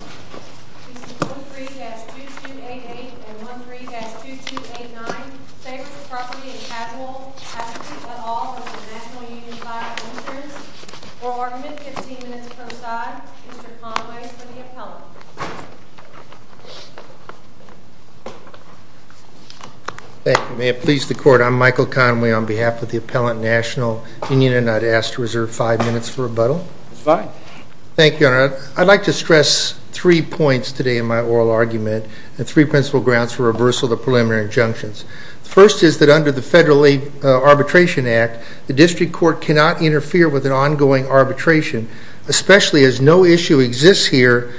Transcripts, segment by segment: Mr. 13-2288 and 13-2289, Savers Property and Casualty, Patrick Luthal, National Union Fire Insurance. For argument, 15 minutes per side. Mr. Conway for the appellant. Thank you. May it please the Court, I'm Michael Conway on behalf of the Appellant National Union and I'd ask to reserve 5 minutes for rebuttal. Thank you, Your Honor. I'd like to stress three points today in my oral argument and three principal grounds for reversal of the preliminary injunctions. The first is that under the Federal Arbitration Act, the District Court cannot interfere with an ongoing arbitration, especially as no issue exists here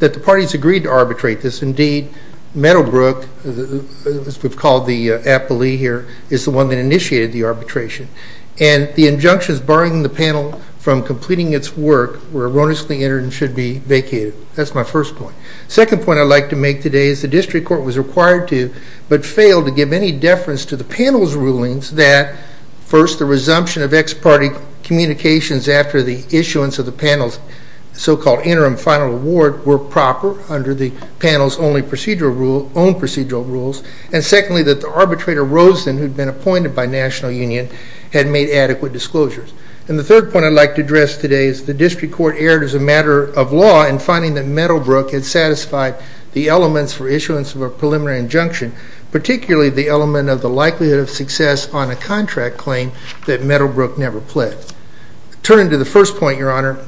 that the parties agreed to arbitrate this. Indeed, Meadowbrook, as we've called the appellee here, is the one that initiated the arbitration. And the injunctions barring the panel from completing its work were erroneously entered and should be vacated. That's my first point. The second point I'd like to make today is the District Court was required to but failed to give any deference to the panel's rulings that, first, the resumption of ex-party communications after the issuance of the panel's so-called interim final award were proper under the panel's own procedural rules. And secondly, that the arbitrator Rosen, who'd been appointed by National Union, had made yesterday's, the District Court erred as a matter of law in finding that Meadowbrook had satisfied the elements for issuance of a preliminary injunction, particularly the element of the likelihood of success on a contract claim that Meadowbrook never pled. Turning to the first point, Your Honor,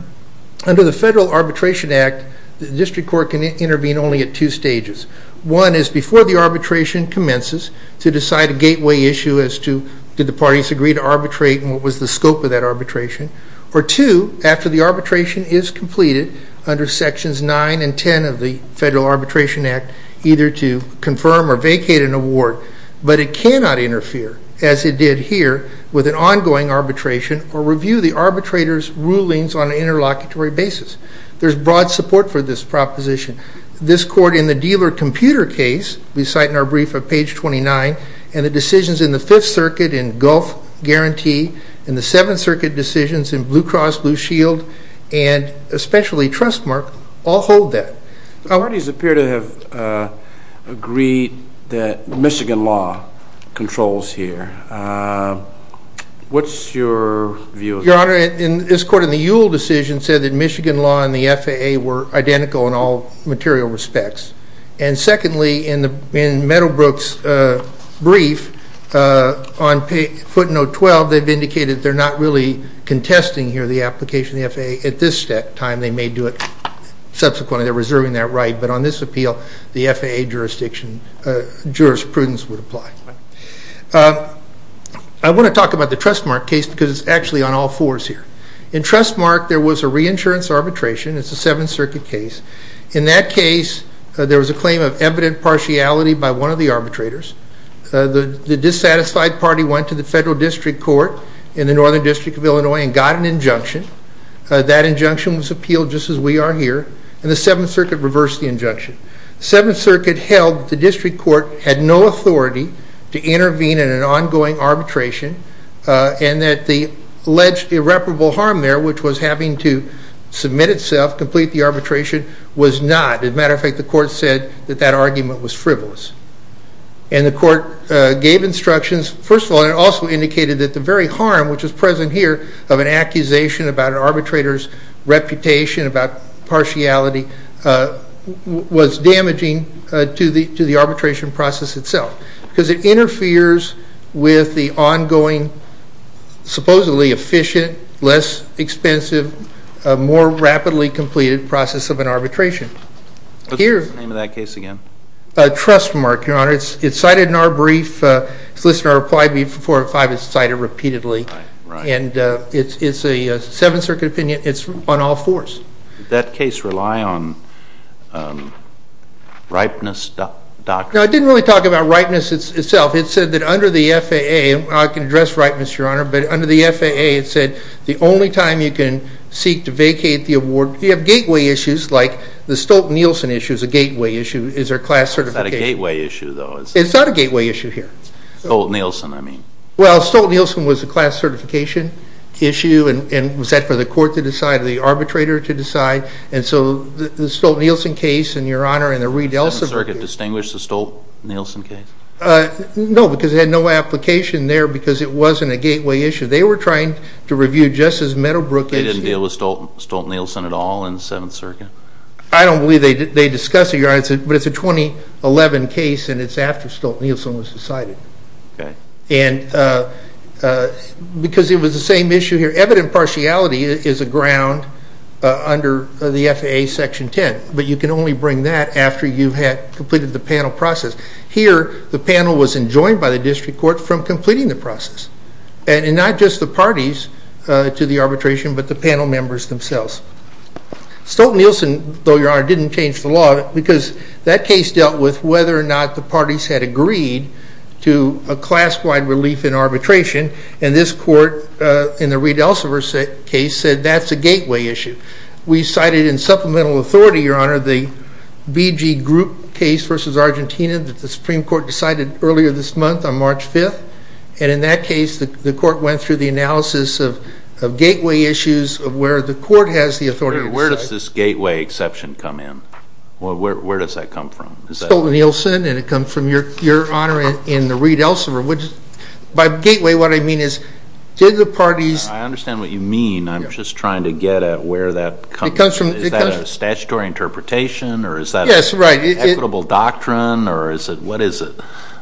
under the Federal Arbitration Act, the District Court can intervene only at two stages. One is before the arbitration commences to decide a gateway issue as to did the parties agree to arbitrate and what was the scope of that arbitration? Or two, after the arbitration is completed under Sections 9 and 10 of the Federal Arbitration Act, either to confirm or vacate an award, but it cannot interfere, as it did here, with an ongoing arbitration or review the arbitrator's rulings on an interlocutory basis. There's broad support for this proposition. This court in the dealer computer case, we cite in our brief at page 29, and the decisions in the guarantee and the Seventh Circuit decisions in Blue Cross Blue Shield and especially Trustmark all hold that. The parties appear to have agreed that Michigan law controls here. What's your view of that? Your Honor, this court in the Ewell decision said that Michigan law and the FAA were identical in all material respects. And secondly, in Note 12, they've indicated they're not really contesting here the application of the FAA. At this time, they may do it subsequently. They're reserving that right. But on this appeal, the FAA jurisprudence would apply. I want to talk about the Trustmark case because it's actually on all fours here. In Trustmark, there was a reinsurance arbitration. It's a Seventh Circuit case. In that case, there was a claim of evident partiality by one of the arbitrators. The dissatisfied party went to the Central District Court in the Northern District of Illinois and got an injunction. That injunction was appealed just as we are here, and the Seventh Circuit reversed the injunction. The Seventh Circuit held the District Court had no authority to intervene in an ongoing arbitration and that the alleged irreparable harm there, which was having to submit itself, complete the arbitration, was not. As a matter of fact, the court said that that argument was frivolous. And the court gave instructions. First of all, it also indicated that the very harm, which is present here, of an accusation about an arbitrator's reputation, about partiality, was damaging to the arbitration process itself because it interferes with the ongoing, supposedly efficient, less expensive, more rapidly completed process of an arbitration. What's the name of that case again? Trustmark, Your Honor. It's cited in our brief. It's listed in our reply brief four and five. It's cited repeatedly. Right. And it's a Seventh Circuit opinion. It's on all fours. Did that case rely on ripeness doctrine? No, it didn't really talk about ripeness itself. It said that under the FAA, I can address ripeness, Your Honor, but under the FAA it said the only time you can seek to vacate the award, if you have gateway issues like the Stolt-Nielsen issue is a gateway issue. Is there class certification? It's not a gateway issue, though. It's not a gateway issue here. Stolt-Nielsen, I mean. Well, Stolt-Nielsen was a class certification issue, and was that for the court to decide or the arbitrator to decide? And so the Stolt-Nielsen case, and, Your Honor, and the Reed-Elson case. Did the Seventh Circuit distinguish the Stolt-Nielsen case? No, because it had no application there because it wasn't a gateway issue. They were trying to review Justice Meadowbrook's case. Did they deal with Stolt-Nielsen at all in the Seventh Circuit? I don't believe they discussed it, Your Honor, but it's a 2011 case, and it's after Stolt-Nielsen was decided. Okay. And because it was the same issue here. Evident partiality is a ground under the FAA Section 10, but you can only bring that after you have completed the panel process. Here, the panel was enjoined by the district court from completing the process, and not just the parties to the arbitration, but the panel members themselves. Stolt-Nielsen, though, Your Honor, didn't change the law because that case dealt with whether or not the parties had agreed to a class-wide relief in arbitration, and this court in the Reed-Elson case said that's a gateway issue. We cited in supplemental authority, Your Honor, the BG Group case versus Argentina that the Supreme Court decided earlier this month on March 5th, and in that case the court went through the analysis of gateway issues of where the court has the authority. Where does this gateway exception come in? Where does that come from? Stolt-Nielsen, and it comes from Your Honor in the Reed-Elson. By gateway, what I mean is did the parties I understand what you mean. I'm just trying to get at where that comes from. Is that a statutory interpretation or is that an equitable doctrine or what is it?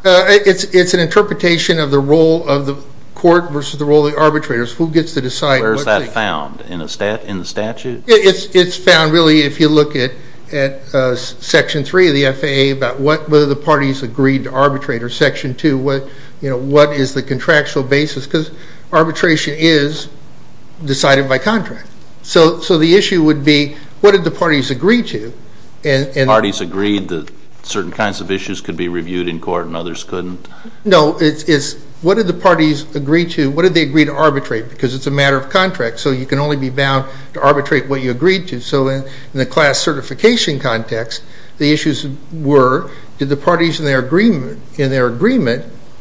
It's an interpretation of the role of the court versus the role of the arbitrators. Who gets to decide? Where is that found? In the statute? It's found really if you look at Section 3 of the FAA about whether the parties agreed to arbitrate or Section 2, what is the contractual basis because arbitration is decided by contract. So the issue would be what did the parties agree to? Parties agreed that certain kinds of issues could be reviewed in court and others couldn't? No, it's what did the parties agree to? What did they agree to arbitrate because it's a matter of contract so you can only be bound to arbitrate what you agreed to. So in the class certification context, the issues were did the parties in their agreement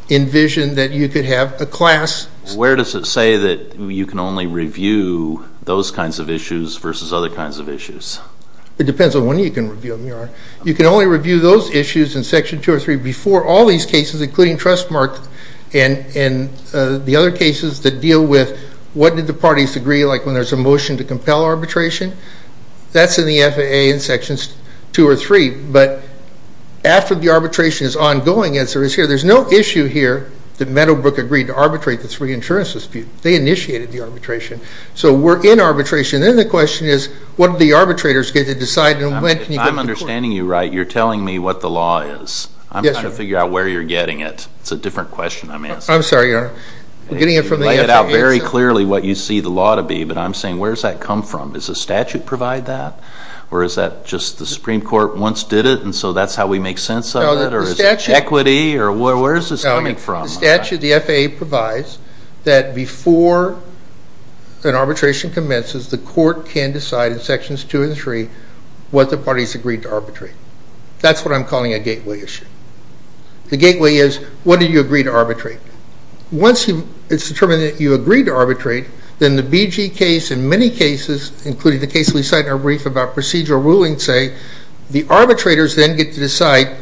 envision that you could have a class? Where does it say that you can only review those kinds of issues It depends on when you can review them, Your Honor. You can only review those issues in Section 2 or 3 before all these cases, including Trustmark and the other cases that deal with what did the parties agree like when there's a motion to compel arbitration? That's in the FAA in Sections 2 or 3. But after the arbitration is ongoing as there is here, there's no issue here that Meadowbrook agreed to arbitrate the three insurance disputes. They initiated the arbitration. So we're in arbitration. Then the question is what did the arbitrators get to decide and when can you go to court? I'm understanding you right. You're telling me what the law is. I'm trying to figure out where you're getting it. It's a different question I'm asking. I'm sorry, Your Honor. We're getting it from the FAA. You lay it out very clearly what you see the law to be. But I'm saying where does that come from? Does the statute provide that or is that just the Supreme Court once did it and so that's how we make sense of it or is it equity or where is this coming from? The statute, the FAA provides that before an arbitration commences, the court can decide in sections two and three what the parties agreed to arbitrate. That's what I'm calling a gateway issue. The gateway is what did you agree to arbitrate? Once it's determined that you agreed to arbitrate, then the BG case and many cases, including the case we cite in our brief about procedural ruling say the arbitrators then get to decide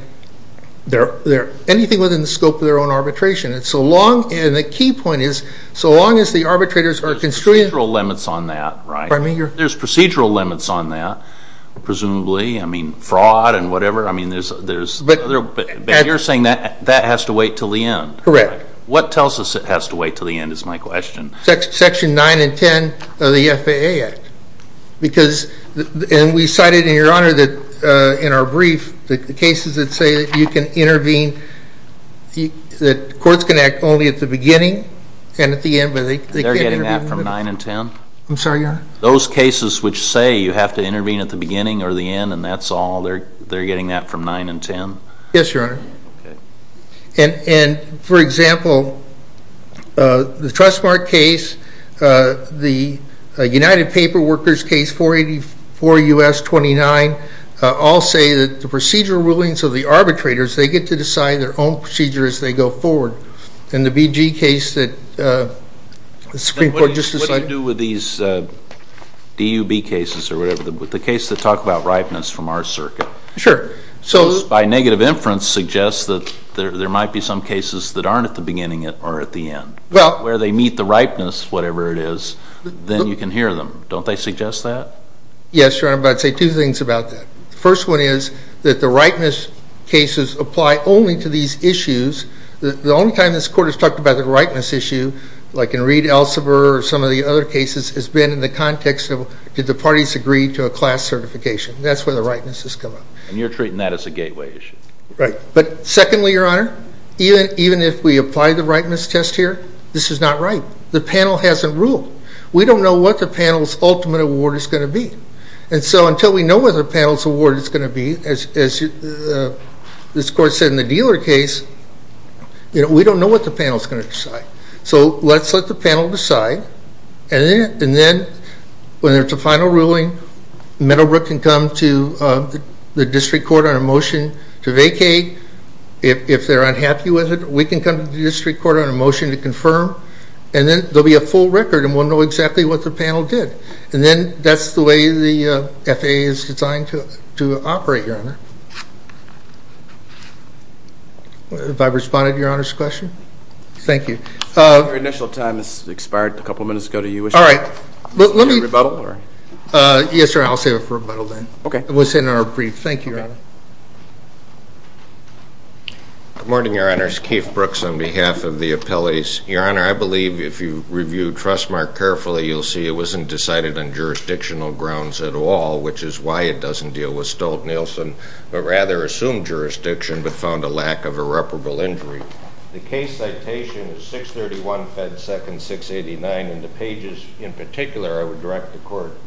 anything within the scope of their own arbitration. And the key point is so long as the arbitrators are constrained. There's procedural limits on that, right? There's procedural limits on that, presumably. I mean fraud and whatever. But you're saying that has to wait until the end. Correct. What tells us it has to wait until the end is my question. Section nine and ten of the FAA Act. And we cited in your Honor that in our brief the cases that say you can intervene, that courts can act only at the beginning and at the end. They're getting that from nine and ten? I'm sorry, Your Honor. Those cases which say you have to intervene at the beginning or the end and that's all, they're getting that from nine and ten? Yes, Your Honor. Okay. And, for example, the Trustmark case, the United Paper Workers case, 484 U.S. 29, all say that the procedural rulings of the arbitrators, they get to decide their own procedure as they go forward. And the BG case that the Supreme Court just decided. What do you do with these DUB cases or whatever, the case that talk about ripeness from our circuit? Sure. Because by negative inference suggests that there might be some cases that aren't at the beginning or at the end. Well. Where they meet the ripeness, whatever it is, then you can hear them. Don't they suggest that? Yes, Your Honor, but I'd say two things about that. The first one is that the ripeness cases apply only to these issues. The only time this Court has talked about the ripeness issue, like in Reed Elsevier or some of the other cases, has been in the context of did the parties agree to a class certification. That's where the ripeness has come up. And you're treating that as a gateway issue. Right. But, secondly, Your Honor, even if we apply the ripeness test here, this is not right. The panel hasn't ruled. We don't know what the panel's ultimate award is going to be. And so until we know what the panel's award is going to be, as this Court said in the dealer case, we don't know what the panel's going to decide. So let's let the panel decide, and then when there's a final ruling, Meadowbrook can come to the district court on a motion to vacate. If they're unhappy with it, we can come to the district court on a motion to confirm, and then there'll be a full record, and we'll know exactly what the panel did. And then that's the way the FAA is designed to operate, Your Honor. Have I responded to Your Honor's question? Thank you. Your initial time has expired a couple minutes ago. Do you wish to rebuttal? Yes, sir. I'll say rebuttal then. Okay. It was in our brief. Thank you, Your Honor. Good morning, Your Honors. Keith Brooks on behalf of the appellees. Your Honor, I believe if you review Trustmark carefully, you'll see it wasn't decided on jurisdictional grounds at all, which is why it doesn't deal with Stolt-Nielsen, but rather assumed jurisdiction but found a lack of irreparable injury. The case citation is 631 Fed Second 689, and the pages in particular I would direct the court's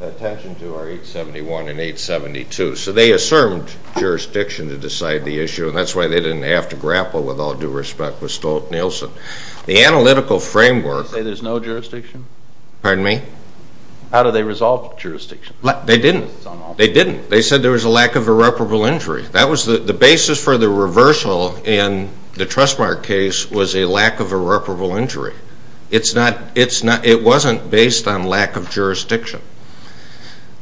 attention to are 871 and 872. So they assumed jurisdiction to decide the issue, and that's why they didn't have to grapple with all due respect with Stolt-Nielsen. The analytical framework Did they say there's no jurisdiction? Pardon me? How did they resolve jurisdiction? They didn't. They didn't. They said there was a lack of irreparable injury. The basis for the reversal in the Trustmark case was a lack of irreparable injury. It wasn't based on lack of jurisdiction.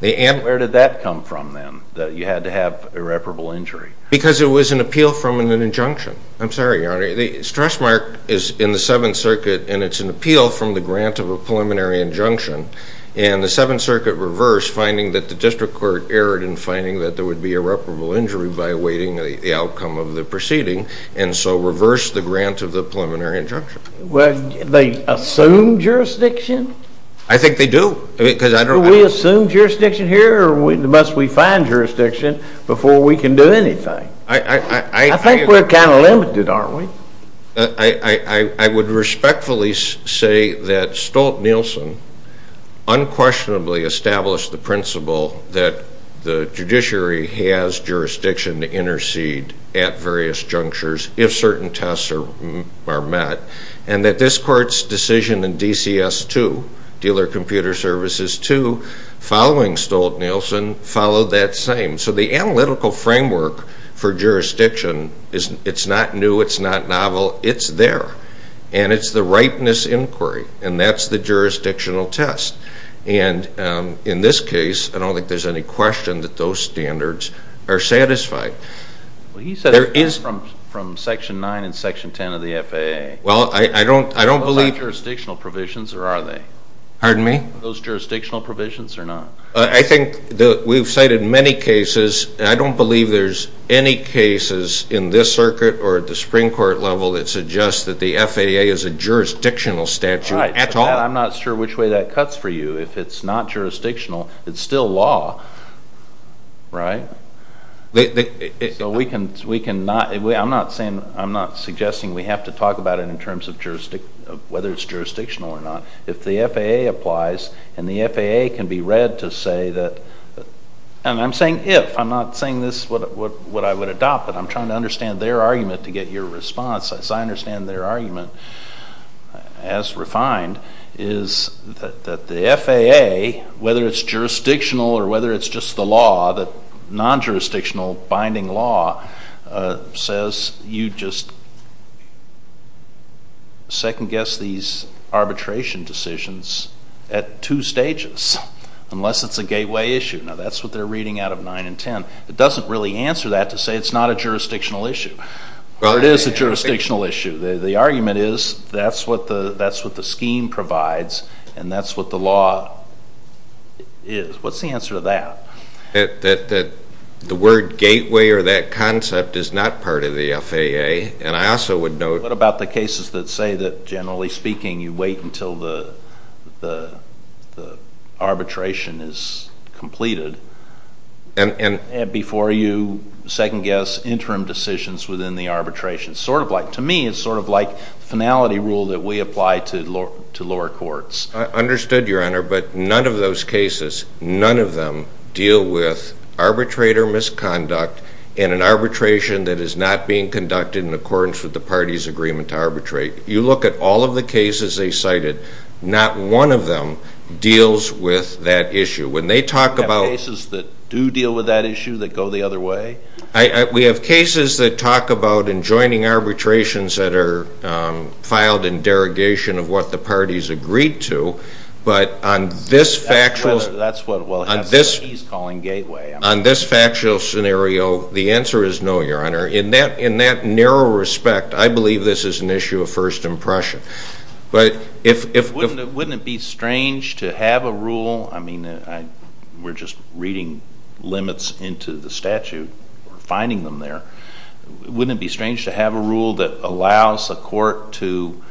Where did that come from then, that you had to have irreparable injury? Because it was an appeal from an injunction. I'm sorry, Your Honor. The Trustmark is in the Seventh Circuit, and it's an appeal from the grant of a preliminary injunction. And the Seventh Circuit reversed, finding that the district court erred in finding that there would be irreparable injury by awaiting the outcome of the proceeding, and so reversed the grant of the preliminary injunction. Well, they assumed jurisdiction? I think they do. Do we assume jurisdiction here, or must we find jurisdiction before we can do anything? I think we're kind of limited, aren't we? I would respectfully say that Stolt-Nielsen unquestionably established the principle that the judiciary has jurisdiction to intercede at various junctures if certain tests are met, and that this Court's decision in DCS 2, Dealer Computer Services 2, following Stolt-Nielsen, followed that same. So the analytical framework for jurisdiction, it's not new, it's not novel, it's there. And it's the ripeness inquiry, and that's the jurisdictional test. And in this case, I don't think there's any question that those standards are satisfied. Well, he said there is from Section 9 and Section 10 of the FAA. Well, I don't believe. Those aren't jurisdictional provisions, or are they? Pardon me? Those jurisdictional provisions or not? I think we've cited many cases, and I don't believe there's any cases in this circuit or at the Supreme Court level that suggest that the FAA is a jurisdictional statute at all. Right, but I'm not sure which way that cuts for you. If it's not jurisdictional, it's still law, right? So we can not, I'm not suggesting we have to talk about it in terms of whether it's jurisdictional or not. If the FAA applies, and the FAA can be read to say that, and I'm saying if, I'm not saying this is what I would adopt, but I'm trying to understand their argument to get your response. As I understand their argument, as refined, is that the FAA, whether it's jurisdictional or whether it's just the law, the non-jurisdictional binding law, says you just second-guess these arbitration decisions at two stages, unless it's a gateway issue. Now, that's what they're reading out of 9 and 10. It doesn't really answer that to say it's not a jurisdictional issue, or it is a jurisdictional issue. The argument is that's what the scheme provides, and that's what the law is. What's the answer to that? That the word gateway or that concept is not part of the FAA, and I also would note— What about the cases that say that, generally speaking, you wait until the arbitration is completed before you second-guess interim decisions within the arbitration? Sort of like, to me, it's sort of like finality rule that we apply to lower courts. I understood, Your Honor, but none of those cases, none of them deal with arbitrate or misconduct in an arbitration that is not being conducted in accordance with the party's agreement to arbitrate. You look at all of the cases they cited, not one of them deals with that issue. When they talk about— Do you have cases that do deal with that issue that go the other way? We have cases that talk about enjoining arbitrations that are filed in derogation of what the parties agreed to, but on this factual— That's what he's calling gateway. On this factual scenario, the answer is no, Your Honor. In that narrow respect, I believe this is an issue of first impression. But if— Wouldn't it be strange to have a rule? I mean, we're just reading limits into the statute or finding them there. Wouldn't it be strange to have a rule that allows a court to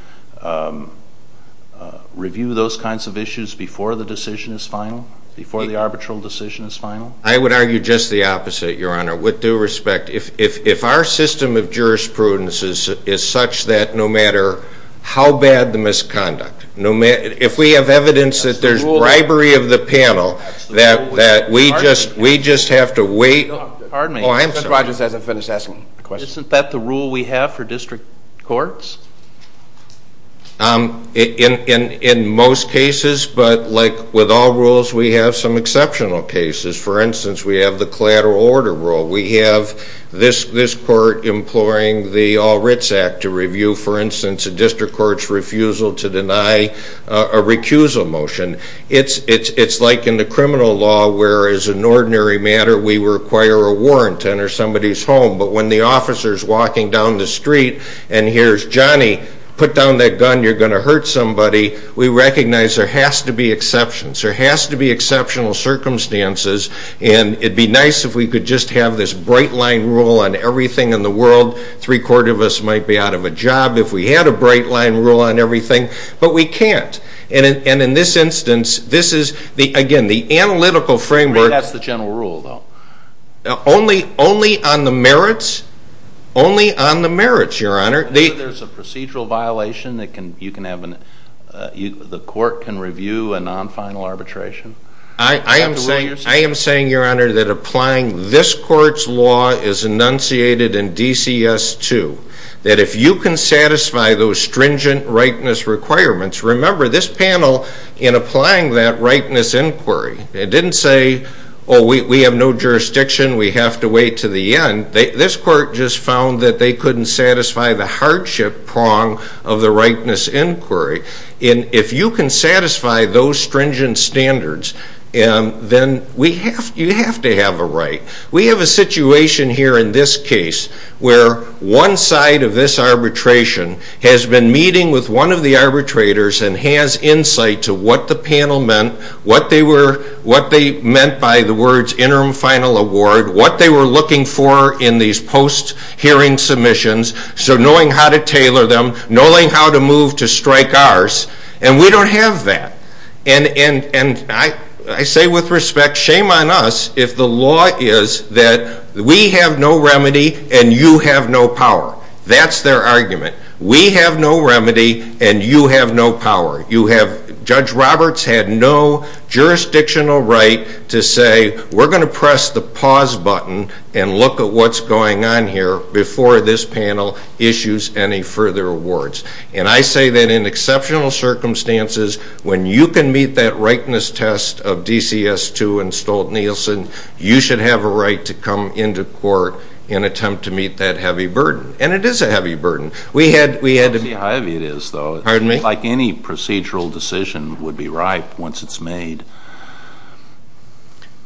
review those kinds of issues before the decision is final, before the arbitral decision is final? I would argue just the opposite, Your Honor. With due respect, if our system of jurisprudence is such that no matter how bad the misconduct, if we have evidence that there's bribery of the panel, that we just have to wait— Isn't that the rule we have for district courts? In most cases, but like with all rules, we have some exceptional cases. For instance, we have the collateral order rule. We have this court imploring the All Writs Act to review, for instance, a district court's refusal to deny a recusal motion. It's like in the criminal law where, as an ordinary matter, we require a warrant to enter somebody's home, but when the officer's walking down the street and hears, Johnny, put down that gun, you're going to hurt somebody, we recognize there has to be exceptions. There has to be exceptional circumstances, and it'd be nice if we could just have this bright-line rule on everything in the world. Three-quarters of us might be out of a job if we had a bright-line rule on everything, but we can't. And in this instance, this is, again, the analytical framework— That's the general rule, though. Only on the merits? Only on the merits, Your Honor. There's a procedural violation that the court can review a non-final arbitration? I am saying, Your Honor, that applying this court's law is enunciated in DCS 2, that if you can satisfy those stringent rightness requirements— remember, this panel, in applying that rightness inquiry, it didn't say, oh, we have no jurisdiction, we have to wait to the end. This court just found that they couldn't satisfy the hardship prong of the rightness inquiry. If you can satisfy those stringent standards, then you have to have a right. We have a situation here in this case where one side of this arbitration has been meeting with one of the arbitrators and has insight to what the panel meant, what they meant by the words interim final award, what they were looking for in these post-hearing submissions, so knowing how to tailor them, knowing how to move to strike ours, and we don't have that. And I say with respect, shame on us if the law is that we have no remedy and you have no power. That's their argument. We have no remedy and you have no power. Judge Roberts had no jurisdictional right to say, we're going to press the pause button and look at what's going on here before this panel issues any further awards. And I say that in exceptional circumstances, when you can meet that rightness test of DCS 2 and Stolt-Nielsen, you should have a right to come into court and attempt to meet that heavy burden. And it is a heavy burden. We had to be... It's heavy it is, though. Pardon me? Like any procedural decision would be ripe once it's made.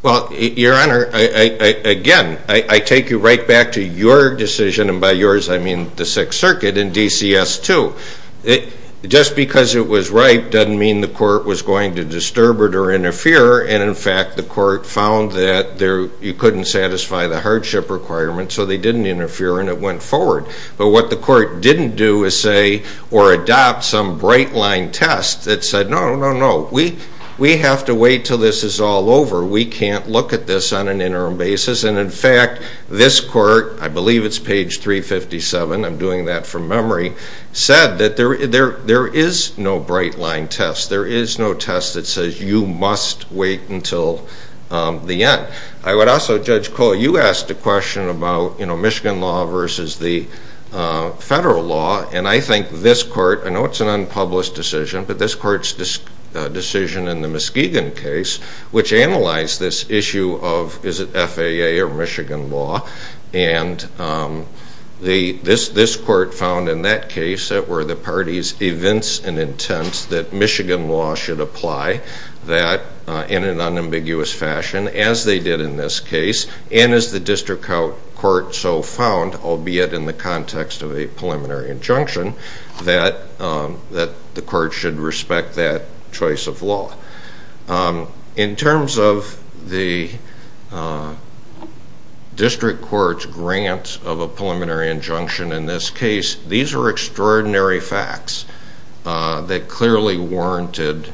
Well, Your Honor, again, I take you right back to your decision, and by yours I mean the Sixth Circuit and DCS 2. Just because it was ripe doesn't mean the court was going to disturb it or interfere, and, in fact, the court found that you couldn't satisfy the hardship requirement, so they didn't interfere and it went forward. But what the court didn't do is say or adopt some bright-line test that said, no, no, no, we have to wait until this is all over. We can't look at this on an interim basis. And, in fact, this court, I believe it's page 357, I'm doing that from memory, said that there is no bright-line test. There is no test that says you must wait until the end. I would also, Judge Cole, you asked a question about, you know, federal law, and I think this court, I know it's an unpublished decision, but this court's decision in the Muskegon case, which analyzed this issue of is it FAA or Michigan law, and this court found in that case that were the parties' events and intents that Michigan law should apply that in an unambiguous fashion, as they did in this case, and as the district court so found, albeit in the context of a preliminary injunction, that the court should respect that choice of law. In terms of the district court's grant of a preliminary injunction in this case, these are extraordinary facts that clearly warranted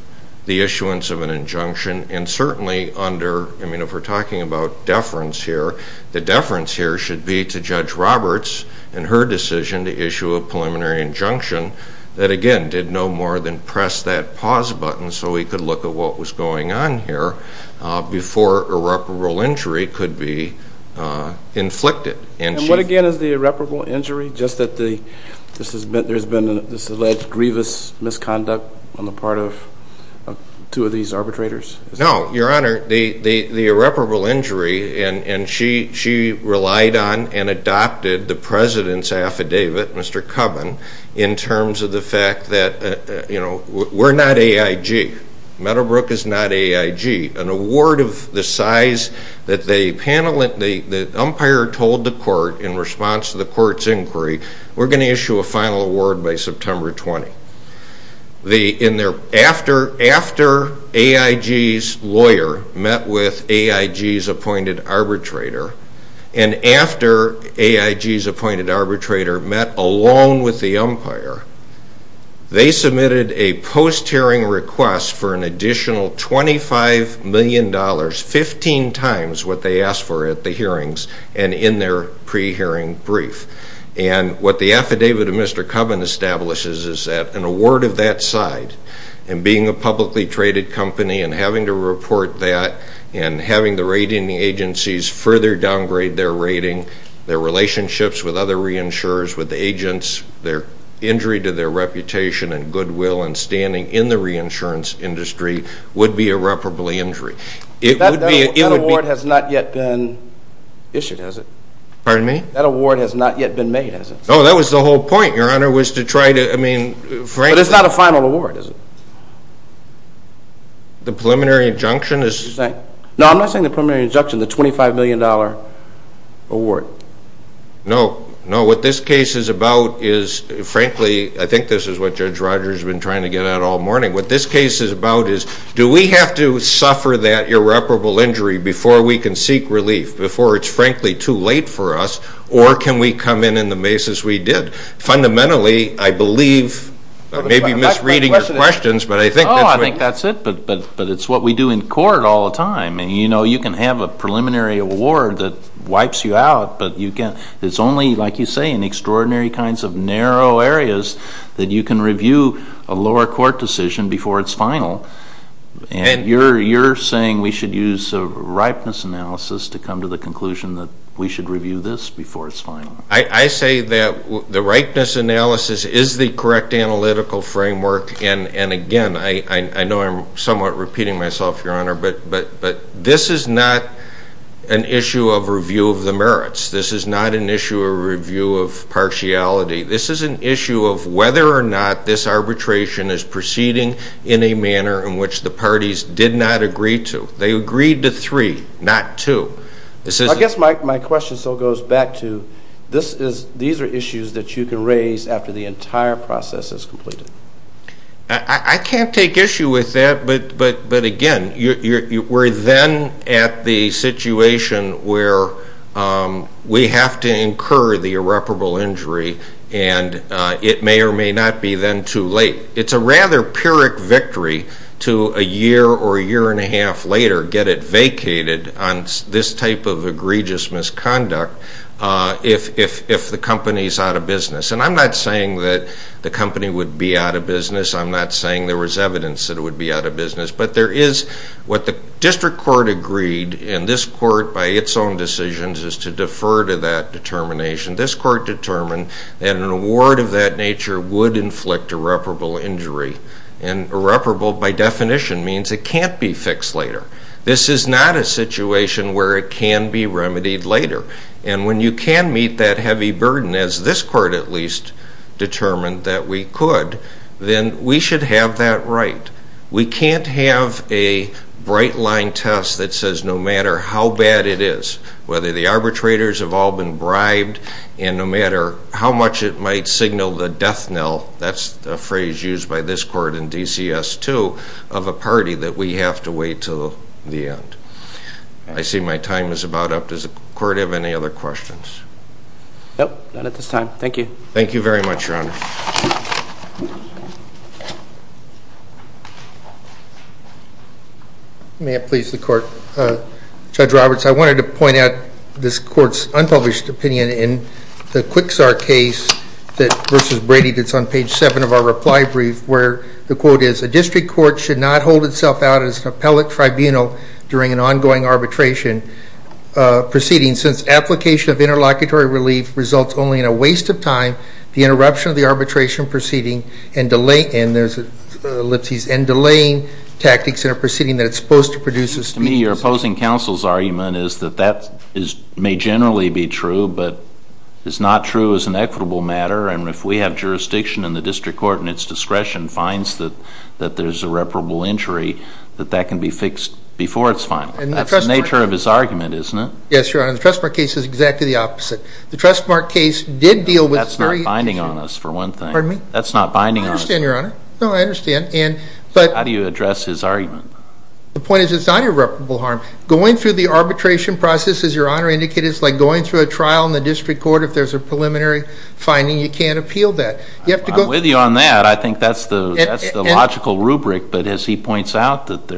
the issuance of an injunction, and certainly under, I mean, if we're talking about deference here, the deference here should be to Judge Roberts and her decision to issue a preliminary injunction that, again, did no more than press that pause button so we could look at what was going on here before irreparable injury could be inflicted. And what, again, is the irreparable injury, just that there's been this alleged grievous misconduct on the part of two of these arbitrators? No, Your Honor, the irreparable injury, and she relied on and adopted the president's affidavit, Mr. Cubbon, in terms of the fact that we're not AIG. Meadowbrook is not AIG. An award of the size that the umpire told the court in response to the court's inquiry, we're going to issue a final award by September 20. After AIG's lawyer met with AIG's appointed arbitrator, and after AIG's appointed arbitrator met alone with the umpire, they submitted a post-hearing request for an additional $25 million, 15 times what they asked for at the hearings and in their pre-hearing brief. And what the affidavit of Mr. Cubbon establishes is that an award of that size and being a publicly traded company and having to report that and having the rating agencies further downgrade their rating, their relationships with other reinsurers, with the agents, their injury to their reputation and goodwill and standing in the reinsurance industry would be irreparably injury. That award has not yet been issued, has it? Pardon me? That award has not yet been made, has it? Oh, that was the whole point, Your Honor, was to try to, I mean, frankly. But it's not a final award, is it? The preliminary injunction is. No, I'm not saying the preliminary injunction, the $25 million award. No, no. What this case is about is, frankly, I think this is what Judge Rogers has been trying to get at all morning. What this case is about is do we have to suffer that irreparable injury before we can seek relief, before it's, frankly, too late for us, or can we come in in the mazes we did? Fundamentally, I believe, I may be misreading your questions, but I think that's what. Oh, I think that's it. But it's what we do in court all the time. And, you know, you can have a preliminary award that wipes you out, but it's only, like you say, in extraordinary kinds of narrow areas that you can review a lower court decision before it's final. And you're saying we should use a ripeness analysis to come to the conclusion that we should review this before it's final. I say that the ripeness analysis is the correct analytical framework. And, again, I know I'm somewhat repeating myself, Your Honor, but this is not an issue of review of the merits. This is not an issue of review of partiality. This is an issue of whether or not this arbitration is proceeding in a manner in which the parties did not agree to. They agreed to three, not two. I guess my question still goes back to these are issues that you can raise after the entire process is completed. I can't take issue with that, but, again, we're then at the situation where we have to incur the irreparable injury, and it may or may not be then too late. It's a rather pyrrhic victory to a year or a year and a half later get it vacated on this type of egregious misconduct if the company is out of business. And I'm not saying that the company would be out of business. I'm not saying there was evidence that it would be out of business. But there is what the district court agreed, and this court by its own decisions is to defer to that determination. This court determined that an award of that nature would inflict irreparable injury, and irreparable by definition means it can't be fixed later. This is not a situation where it can be remedied later. And when you can meet that heavy burden, as this court at least determined that we could, then we should have that right. We can't have a bright-line test that says no matter how bad it is, whether the arbitrators have all been bribed, and no matter how much it might signal the death knell, that's a phrase used by this court in DCS2, of a party that we have to wait till the end. I see my time is about up. Does the court have any other questions? No, not at this time. Thank you. Thank you very much, Your Honor. May it please the court. Judge Roberts, I wanted to point out this court's unpublished opinion in the Quicksark case versus Brady that's on page 7 of our reply brief, where the quote is, a district court should not hold itself out as an appellate tribunal during an ongoing arbitration proceeding since application of interlocutory relief results only in a waste of time, the interruption of the arbitration proceeding, and there's an ellipsis, and delaying tactics in a proceeding that is supposed to produce a speedy result. To me, your opposing counsel's argument is that that may generally be true, but is not true as an equitable matter, and if we have jurisdiction in the district court and its discretion finds that there's irreparable injury, that that can be fixed before it's final. That's the nature of his argument, isn't it? Yes, Your Honor. The Trustmark case is exactly the opposite. The Trustmark case did deal with the story. That's not binding on us, for one thing. Pardon me? That's not binding on us. I understand, Your Honor. No, I understand. How do you address his argument? The point is it's not irreparable harm. Going through the arbitration process, as Your Honor indicated, is like going through a trial in the district court. If there's a preliminary finding, you can't appeal that. I'm with you on that. I think that's the logical rubric, but as he points out, that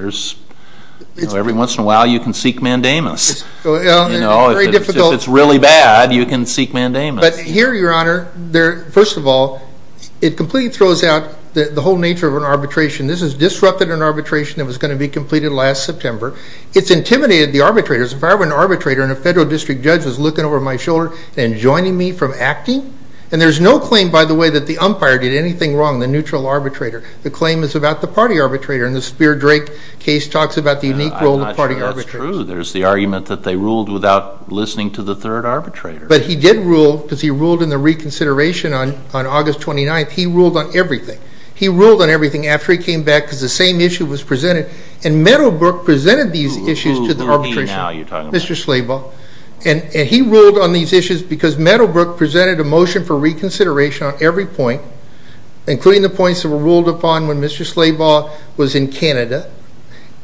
every once in a while you can seek mandamus. If it's really bad, you can seek mandamus. But here, Your Honor, first of all, it completely throws out the whole nature of an arbitration. This has disrupted an arbitration that was going to be completed last September. It's intimidated the arbitrators. If I were an arbitrator and a federal district judge was looking over my shoulder and joining me from acting, and there's no claim, by the way, that the umpire did anything wrong, the neutral arbitrator. The claim is about the party arbitrator, and the Spear-Drake case talks about the unique role of party arbitrators. I'm not sure that's true. There's the argument that they ruled without listening to the third arbitrator. But he did rule because he ruled in the reconsideration on August 29th. He ruled on everything. He ruled on everything after he came back because the same issue was presented. And Meadowbrook presented these issues to the arbitration. Who are you talking about now? Mr. Slabaugh. And he ruled on these issues because Meadowbrook presented a motion for reconsideration on every point, including the points that were ruled upon when Mr. Slabaugh was in Canada,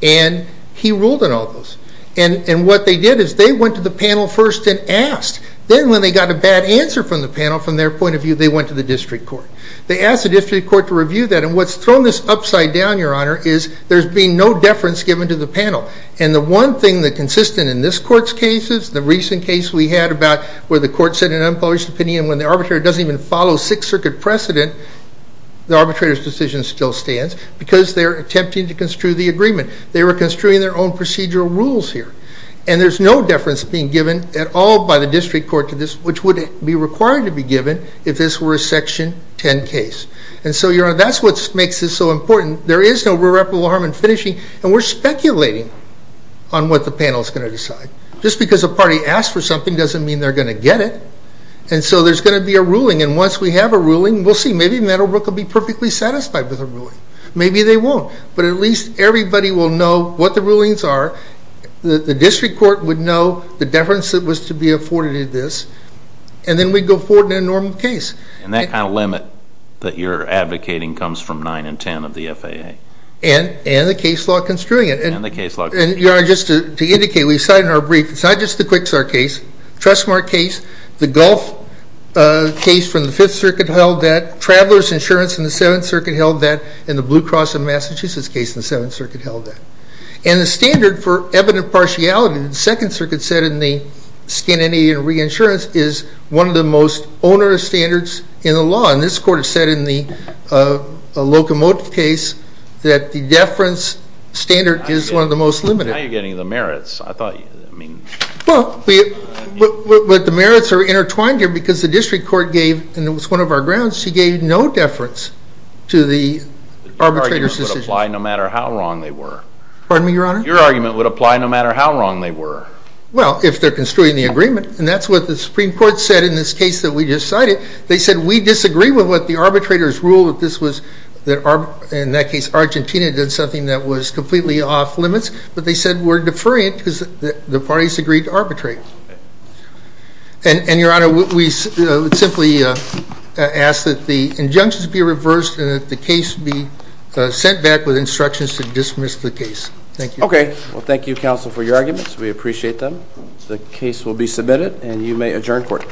and he ruled on all those. And what they did is they went to the panel first and asked. Then when they got a bad answer from the panel, from their point of view, they went to the district court. They asked the district court to review that, and what's thrown this upside down, Your Honor, is there's been no deference given to the panel. And the one thing that's consistent in this court's cases, the recent case we had about where the court said an unpublished opinion when the arbitrator doesn't even follow Sixth Circuit precedent, the arbitrator's decision still stands because they're attempting to construe the agreement. They were construing their own procedural rules here. And there's no deference being given at all by the district court to this, which would be required to be given if this were a Section 10 case. And so, Your Honor, that's what makes this so important. There is no irreparable harm in finishing, and we're speculating on what the panel is going to decide. Just because a party asked for something doesn't mean they're going to get it. And so there's going to be a ruling, and once we have a ruling, we'll see. Maybe Meadowbrook will be perfectly satisfied with the ruling. Maybe they won't. But at least everybody will know what the rulings are. The district court would know the deference that was to be afforded to this, and then we'd go forward in a normal case. And that kind of limit that you're advocating comes from 9 and 10 of the FAA. And the case law construing it. And the case law construing it. And, Your Honor, just to indicate, we've cited in our brief, it's not just the Quicksare case, Trust Smart case, the Gulf case from the Fifth Circuit held that, Traveler's Insurance in the Seventh Circuit held that, and the Blue Cross of Massachusetts case in the Seventh Circuit held that. And the standard for evident partiality, the Second Circuit said in the Scandinavian Reinsurance, is one of the most onerous standards in the law. And this court has said in the locomotive case that the deference standard is one of the most limited. Now you're getting the merits. I thought you, I mean. Well, but the merits are intertwined here because the district court gave, and it was one of our grounds, she gave no deference to the arbitrator's decision. Your argument would apply no matter how wrong they were. Pardon me, Your Honor? Your argument would apply no matter how wrong they were. Well, if they're construing the agreement. And that's what the Supreme Court said in this case that we just cited. They said we disagree with what the arbitrators ruled that this was, in that case Argentina did something that was completely off limits. But they said we're deferring it because the parties agreed to arbitrate. And, Your Honor, we simply ask that the injunctions be reversed and that the case be sent back with instructions to dismiss the case. Thank you. Okay. Well, thank you, counsel, for your arguments. We appreciate them. The case will be submitted, and you may adjourn court.